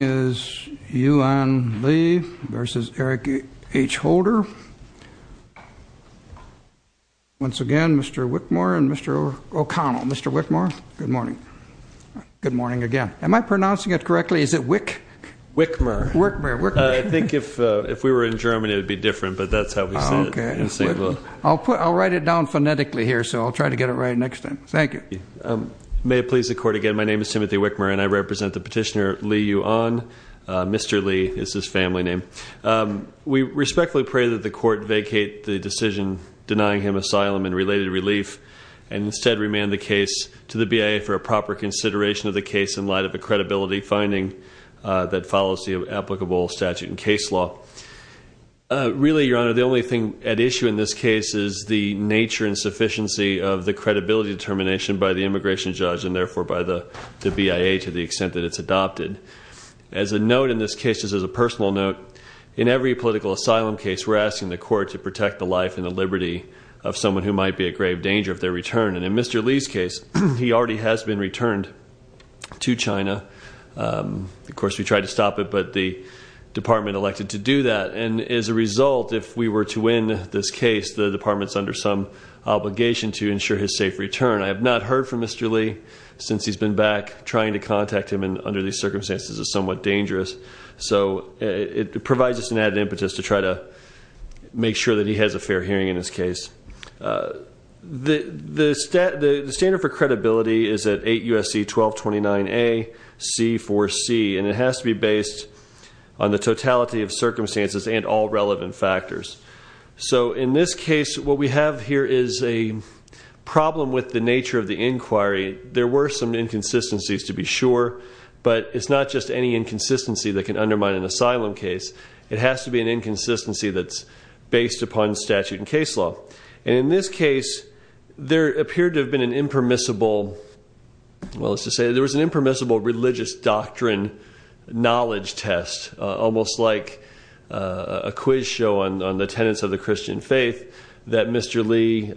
Once again, Mr. Wickmore and Mr. O'Connell, Mr. Wickmore, good morning, good morning again. Am I pronouncing it correctly, is it wick? Wickmer, Wickmer. I think if we were in Germany it would be different, but that's how we say it in St. Louis. I'll write it down phonetically here, so I'll try to get it right next time. Thank you. May it please the court again, my name is Timothy Wickmer and I represent the petitioner to the EU on, Mr. Li is his family name. We respectfully pray that the court vacate the decision denying him asylum and related relief and instead remand the case to the BIA for a proper consideration of the case in light of a credibility finding that follows the applicable statute and case law. Really Your Honor, the only thing at issue in this case is the nature and sufficiency of the credibility determination by the immigration judge and therefore by the BIA to the extent that it's adopted. As a note in this case, just as a personal note, in every political asylum case we're asking the court to protect the life and the liberty of someone who might be a grave danger of their return. And in Mr. Li's case, he already has been returned to China. Of course we tried to stop it, but the department elected to do that. And as a result, if we were to win this case, the department's under some obligation to ensure his safe return. I have not heard from Mr. Li since he's been back. Trying to contact him under these circumstances is somewhat dangerous. So it provides us an added impetus to try to make sure that he has a fair hearing in his case. The standard for credibility is at 8 USC 1229A C4C, and it has to be based on the totality of circumstances and all relevant factors. So in this case, what we have here is a problem with the nature of the inquiry. There were some inconsistencies to be sure, but it's not just any inconsistency that can undermine an asylum case. It has to be an inconsistency that's based upon statute and case law. And in this case, there appeared to have been an impermissible, well, let's just say there was an impermissible religious doctrine knowledge test. Almost like a quiz show on the tenets of the Christian faith that Mr. Li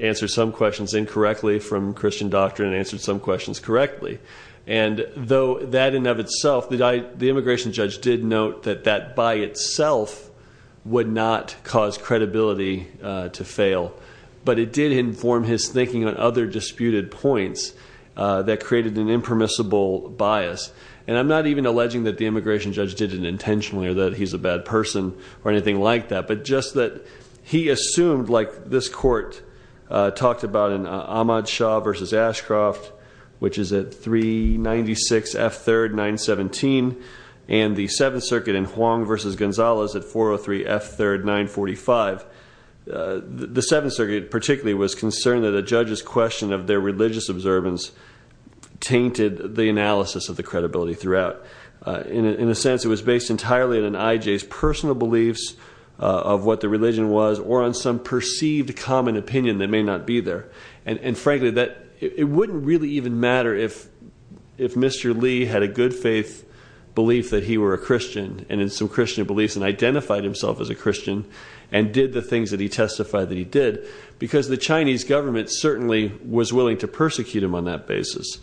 answered some questions incorrectly from Christian doctrine and answered some questions correctly. And though that in and of itself, the immigration judge did note that that by itself would not cause credibility to fail. But it did inform his thinking on other disputed points that created an impermissible bias. And I'm not even alleging that the immigration judge did it intentionally or that he's a bad person or anything like that. But just that he assumed, like this court talked about in Ahmad Shah versus Ashcroft, which is at 396 F3rd 917, and the Seventh Circuit in Huang versus Gonzales at 403 F3rd 945. The Seventh Circuit particularly was concerned that a judge's question of their religious observance tainted the analysis of the credibility throughout. In a sense, it was based entirely on an IJ's personal beliefs of what the religion was or on some perceived common opinion that may not be there. And frankly, it wouldn't really even matter if Mr. Li had a good faith belief that he were a Christian and in some Christian beliefs and identified himself as a Christian and did the things that he testified that he did. Because the Chinese government certainly was willing to persecute him on that basis.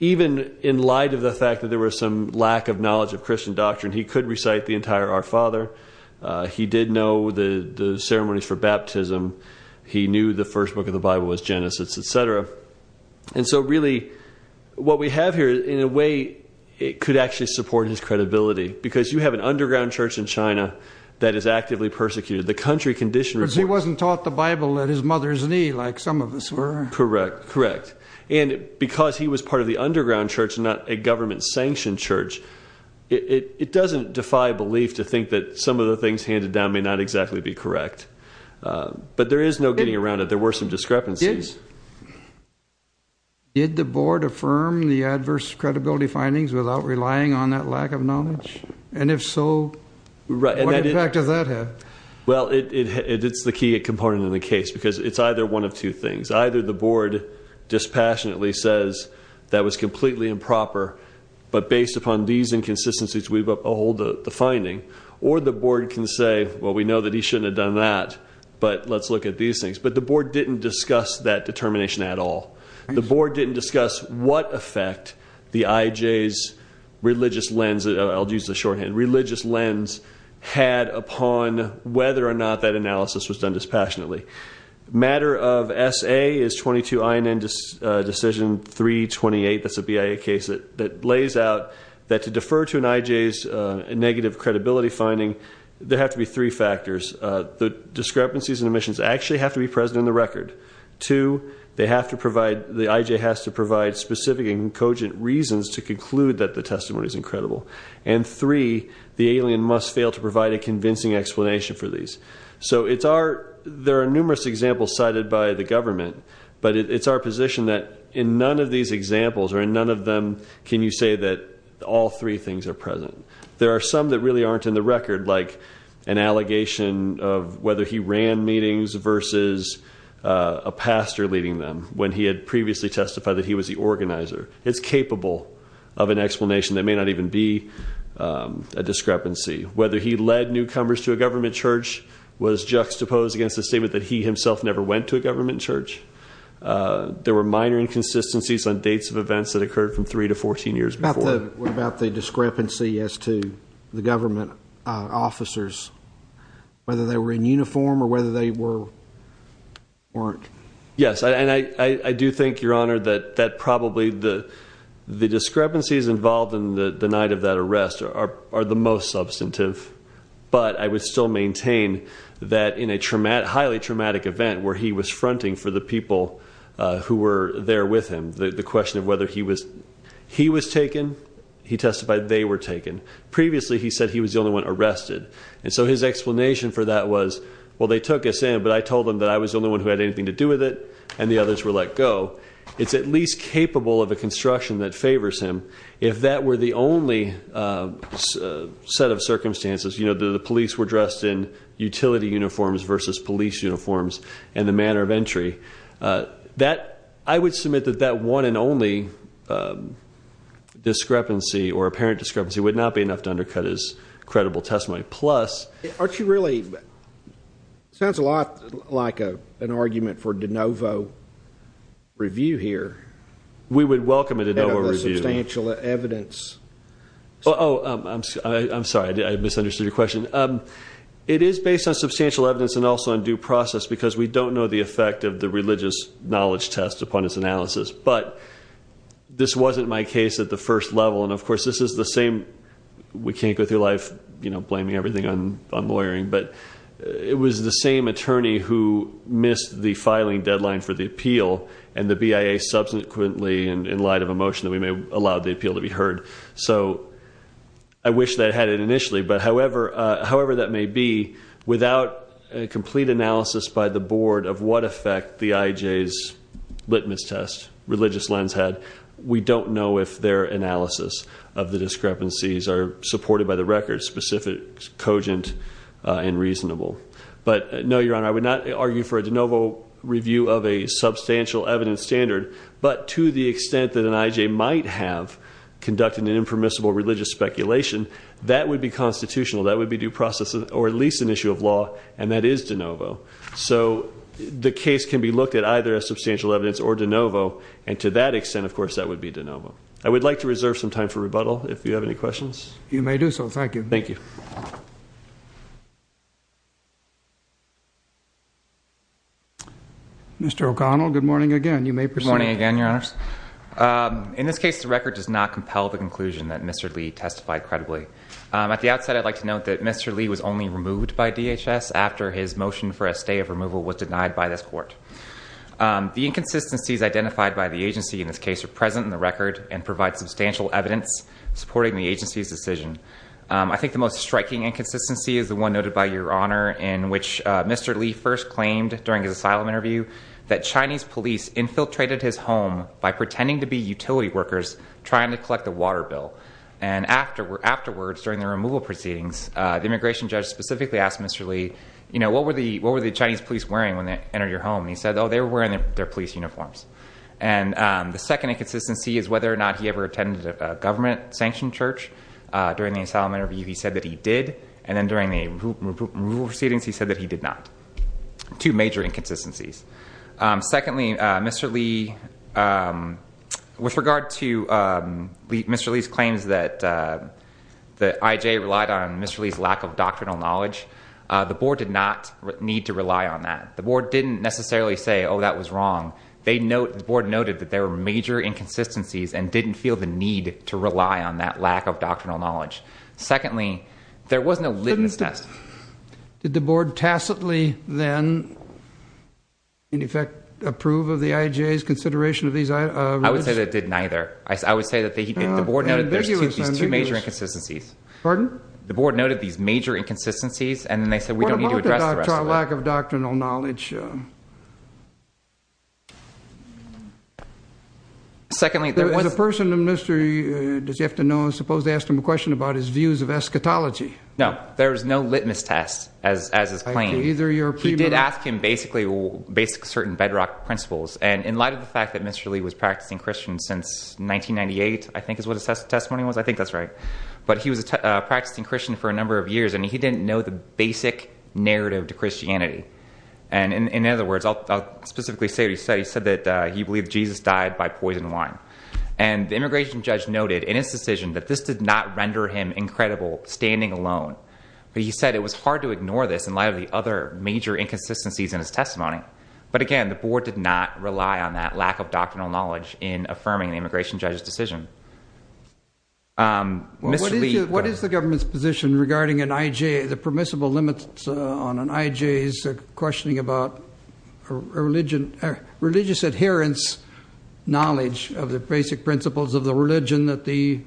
Even in light of the fact that there was some lack of knowledge of Christian doctrine, he could recite the entire Our Father. He did know the ceremonies for baptism. He knew the first book of the Bible was Genesis, etc. And so really, what we have here, in a way, it could actually support his credibility. Because you have an underground church in China that is actively persecuted. The country condition- Because he wasn't taught the Bible at his mother's knee, like some of us were. Correct, correct. And because he was part of the underground church and not a government sanctioned church, it doesn't defy belief to think that some of the things handed down may not exactly be correct. But there is no getting around it. There were some discrepancies. Did the board affirm the adverse credibility findings without relying on that lack of knowledge? And if so, what effect does that have? Well, it's the key component in the case, because it's either one of two things. Either the board dispassionately says that was completely improper, but based upon these inconsistencies, we behold the finding. Or the board can say, well, we know that he shouldn't have done that, but let's look at these things. But the board didn't discuss that determination at all. The board didn't discuss what effect the IJ's religious lens, had upon whether or not that analysis was done dispassionately. Matter of SA is 22 INN decision 328, that's a BIA case that lays out that to defer to an IJ's negative credibility finding, there have to be three factors. The discrepancies and omissions actually have to be present in the record. Two, they have to provide, the IJ has to provide specific and cogent reasons to conclude that the testimony is incredible. And three, the alien must fail to provide a convincing explanation for these. So there are numerous examples cited by the government. But it's our position that in none of these examples, or in none of them, can you say that all three things are present. There are some that really aren't in the record, like an allegation of whether he ran meetings versus a pastor leading them, when he had previously testified that he was the organizer. It's capable of an explanation that may not even be a discrepancy. Whether he led newcomers to a government church was juxtaposed against the statement that he himself never went to a government church. There were minor inconsistencies on dates of events that occurred from three to 14 years before. What about the discrepancy as to the government officers? Yes, and I do think, your honor, that probably the discrepancies involved in the night of that arrest are the most substantive. But I would still maintain that in a highly traumatic event where he was fronting for the people who were there with him, the question of whether he was taken, he testified they were taken. Previously, he said he was the only one arrested. And so his explanation for that was, well, they took us in, but I told them that I was the only one who had anything to do with it, and the others were let go. It's at least capable of a construction that favors him. If that were the only set of circumstances, the police were dressed in utility uniforms versus police uniforms, and the manner of entry. I would submit that that one and only discrepancy or not enough to undercut his credible testimony, plus. Aren't you really, sounds a lot like an argument for de novo review here. We would welcome a de novo review. Substantial evidence. I'm sorry, I misunderstood your question. It is based on substantial evidence and also on due process because we don't know the effect of the religious knowledge test upon its analysis. But this wasn't my case at the first level, and of course, this is the same. We can't go through life blaming everything on lawyering. But it was the same attorney who missed the filing deadline for the appeal, and the BIA subsequently, in light of a motion that we may have allowed the appeal to be heard. So I wish that I had it initially, but however that may be, without a complete analysis by the board of what effect the IJ's litmus test, religious lens had. We don't know if their analysis of the discrepancies are supported by the record, specific, cogent, and reasonable. But no, your honor, I would not argue for a de novo review of a substantial evidence standard. But to the extent that an IJ might have conducted an impermissible religious speculation, that would be constitutional, that would be due process, or at least an issue of law, and that is de novo. So the case can be looked at either as substantial evidence or de novo, and to that extent, of course, that would be de novo. I would like to reserve some time for rebuttal, if you have any questions. You may do so, thank you. Thank you. Mr. O'Connell, good morning again. You may proceed. Good morning again, your honors. In this case, the record does not compel the conclusion that Mr. Lee testified credibly. At the outset, I'd like to note that Mr. Lee was only removed by DHS after his motion for a stay of removal was denied by this court. The inconsistencies identified by the agency in this case are present in the record and provide substantial evidence supporting the agency's decision. I think the most striking inconsistency is the one noted by your honor in which Mr. Lee first claimed during his asylum interview that Chinese police infiltrated his home by pretending to be utility workers trying to collect a water bill. And afterwards, during the removal proceedings, the immigration judge specifically asked Mr. Lee, what were the Chinese police wearing when they entered your home? And he said, they were wearing their police uniforms. And the second inconsistency is whether or not he ever attended a government sanctioned church. During the asylum interview, he said that he did, and then during the removal proceedings, he said that he did not. Two major inconsistencies. Secondly, Mr. Lee, with regard to Mr. Lee's claims that the IJ relied on Mr. Lee's lack of doctrinal knowledge, the board did not need to rely on that. The board didn't necessarily say, that was wrong. The board noted that there were major inconsistencies and didn't feel the need to rely on that lack of doctrinal knowledge. Secondly, there was no litmus test. Did the board tacitly then, in effect, approve of the IJ's consideration of these? I would say that it did neither. I would say that the board noted these two major inconsistencies. Pardon? The board noted these major inconsistencies and then they said we don't need to address the rest of it. It's our lack of doctrinal knowledge. Secondly, there was- As a person of Mr. Lee, does he have to know, I suppose, to ask him a question about his views of eschatology? No, there was no litmus test, as is claimed. He did ask him basically certain bedrock principles. And in light of the fact that Mr. Lee was practicing Christian since 1998, I think is what his testimony was, I think that's right. But he was a practicing Christian for a number of years and he didn't know the basic narrative to Christianity. And in other words, I'll specifically say what he said, he said that he believed Jesus died by poison wine. And the immigration judge noted in his decision that this did not render him incredible standing alone. But he said it was hard to ignore this in light of the other major inconsistencies in his testimony. But again, the board did not rely on that lack of doctrinal knowledge in affirming the immigration judge's decision. Mr. Lee- What is the government's position regarding an IJ, the permissible limits on an IJ's questioning about religious adherence knowledge of the basic principles of the religion that the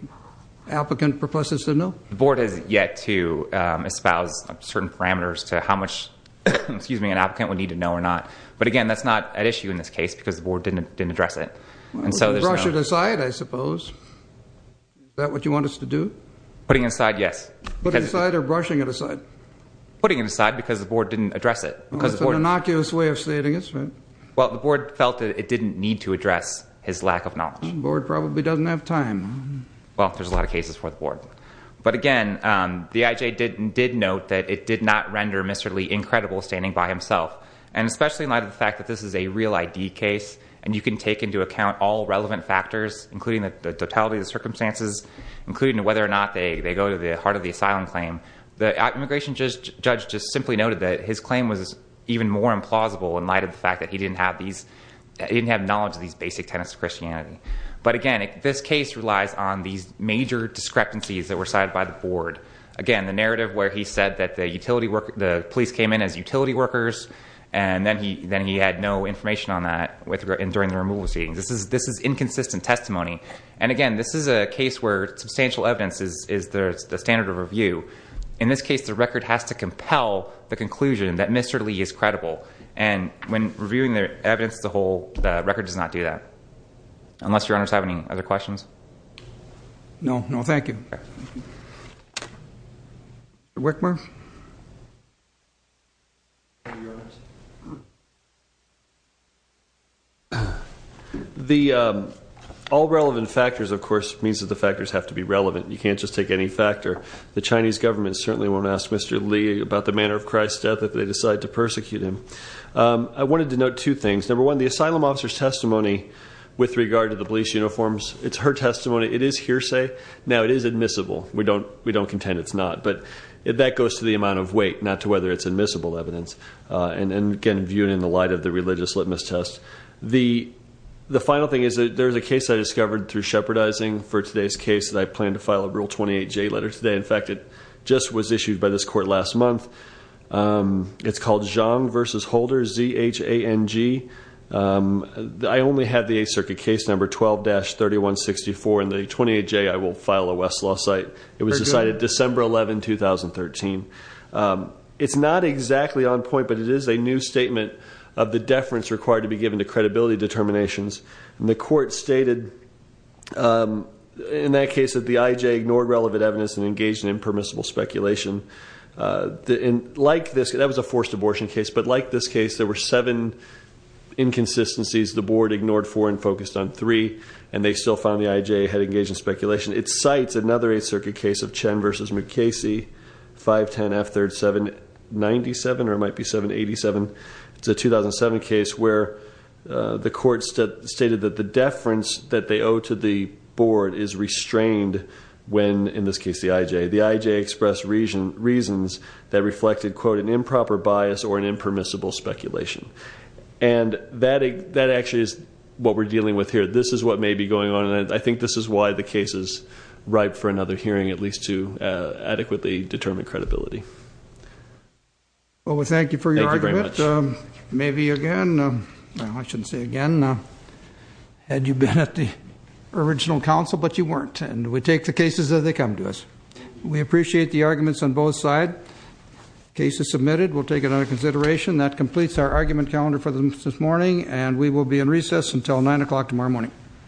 applicant proposes to know? The board has yet to espouse certain parameters to how much an applicant would need to know or not. But again, that's not at issue in this case because the board didn't address it. And so there's no- Putting it aside, yes. Putting it aside or brushing it aside? Putting it aside because the board didn't address it. Because the board- It's an innocuous way of stating it. Well, the board felt that it didn't need to address his lack of knowledge. The board probably doesn't have time. Well, there's a lot of cases for the board. But again, the IJ did note that it did not render Mr. Lee incredible standing by himself. And especially in light of the fact that this is a real ID case, and you can take into account all relevant factors, including the totality of the circumstances, including whether or not they go to the heart of the asylum claim. The immigration judge just simply noted that his claim was even more implausible in light of the fact that he didn't have knowledge of these basic tenets of Christianity. But again, this case relies on these major discrepancies that were cited by the board. Again, the narrative where he said that the police came in as utility workers, and then he had no information on that during the removal proceedings. This is inconsistent testimony. And again, this is a case where substantial evidence is the standard of review. In this case, the record has to compel the conclusion that Mr. Lee is credible. And when reviewing the evidence, the record does not do that. Unless your honors have any other questions? No, no, thank you. Mr. Wickmer? The all relevant factors, of course, means that the factors have to be relevant. You can't just take any factor. The Chinese government certainly won't ask Mr. Lee about the manner of Christ's death if they decide to persecute him. I wanted to note two things. Number one, the asylum officer's testimony with regard to the police uniforms, it's her testimony. It is hearsay. Now, it is admissible. We don't contend it's not, but that goes to the amount of weight, not to whether it's admissible evidence. And again, viewed in the light of the religious litmus test. The final thing is that there's a case I discovered through shepherdizing for today's case that I plan to file a Rule 28J letter today. In fact, it just was issued by this court last month. It's called Zhang versus Holder, Z-H-A-N-G. I only have the Eighth Circuit case number 12-3164, and the 28J, I will file a Westlaw site. It was decided December 11, 2013. It's not exactly on point, but it is a new statement of the deference required to be given to credibility determinations. And the court stated in that case that the IJ ignored relevant evidence and engaged in impermissible speculation. And like this, that was a forced abortion case, but like this case, there were seven inconsistencies. The board ignored four and focused on three, and they still found the IJ had engaged in speculation. It cites another Eighth Circuit case of Chen versus McKasey, 510 F3rd 797, or it might be 787. It's a 2007 case where the court stated that the deference that they owe to the board is restrained when, in this case, the IJ. The IJ expressed reasons that reflected, quote, an improper bias or an impermissible speculation. And that actually is what we're dealing with here. This is what may be going on, and I think this is why the case is ripe for another hearing, at least to adequately determine credibility. Well, we thank you for your argument. Thank you very much. Maybe again, well, I shouldn't say again, had you been at the original council, but you weren't. And we take the cases as they come to us. We appreciate the arguments on both side. Case is submitted. We'll take it under consideration. That completes our argument calendar for this morning, and we will be in recess until 9 o'clock tomorrow morning.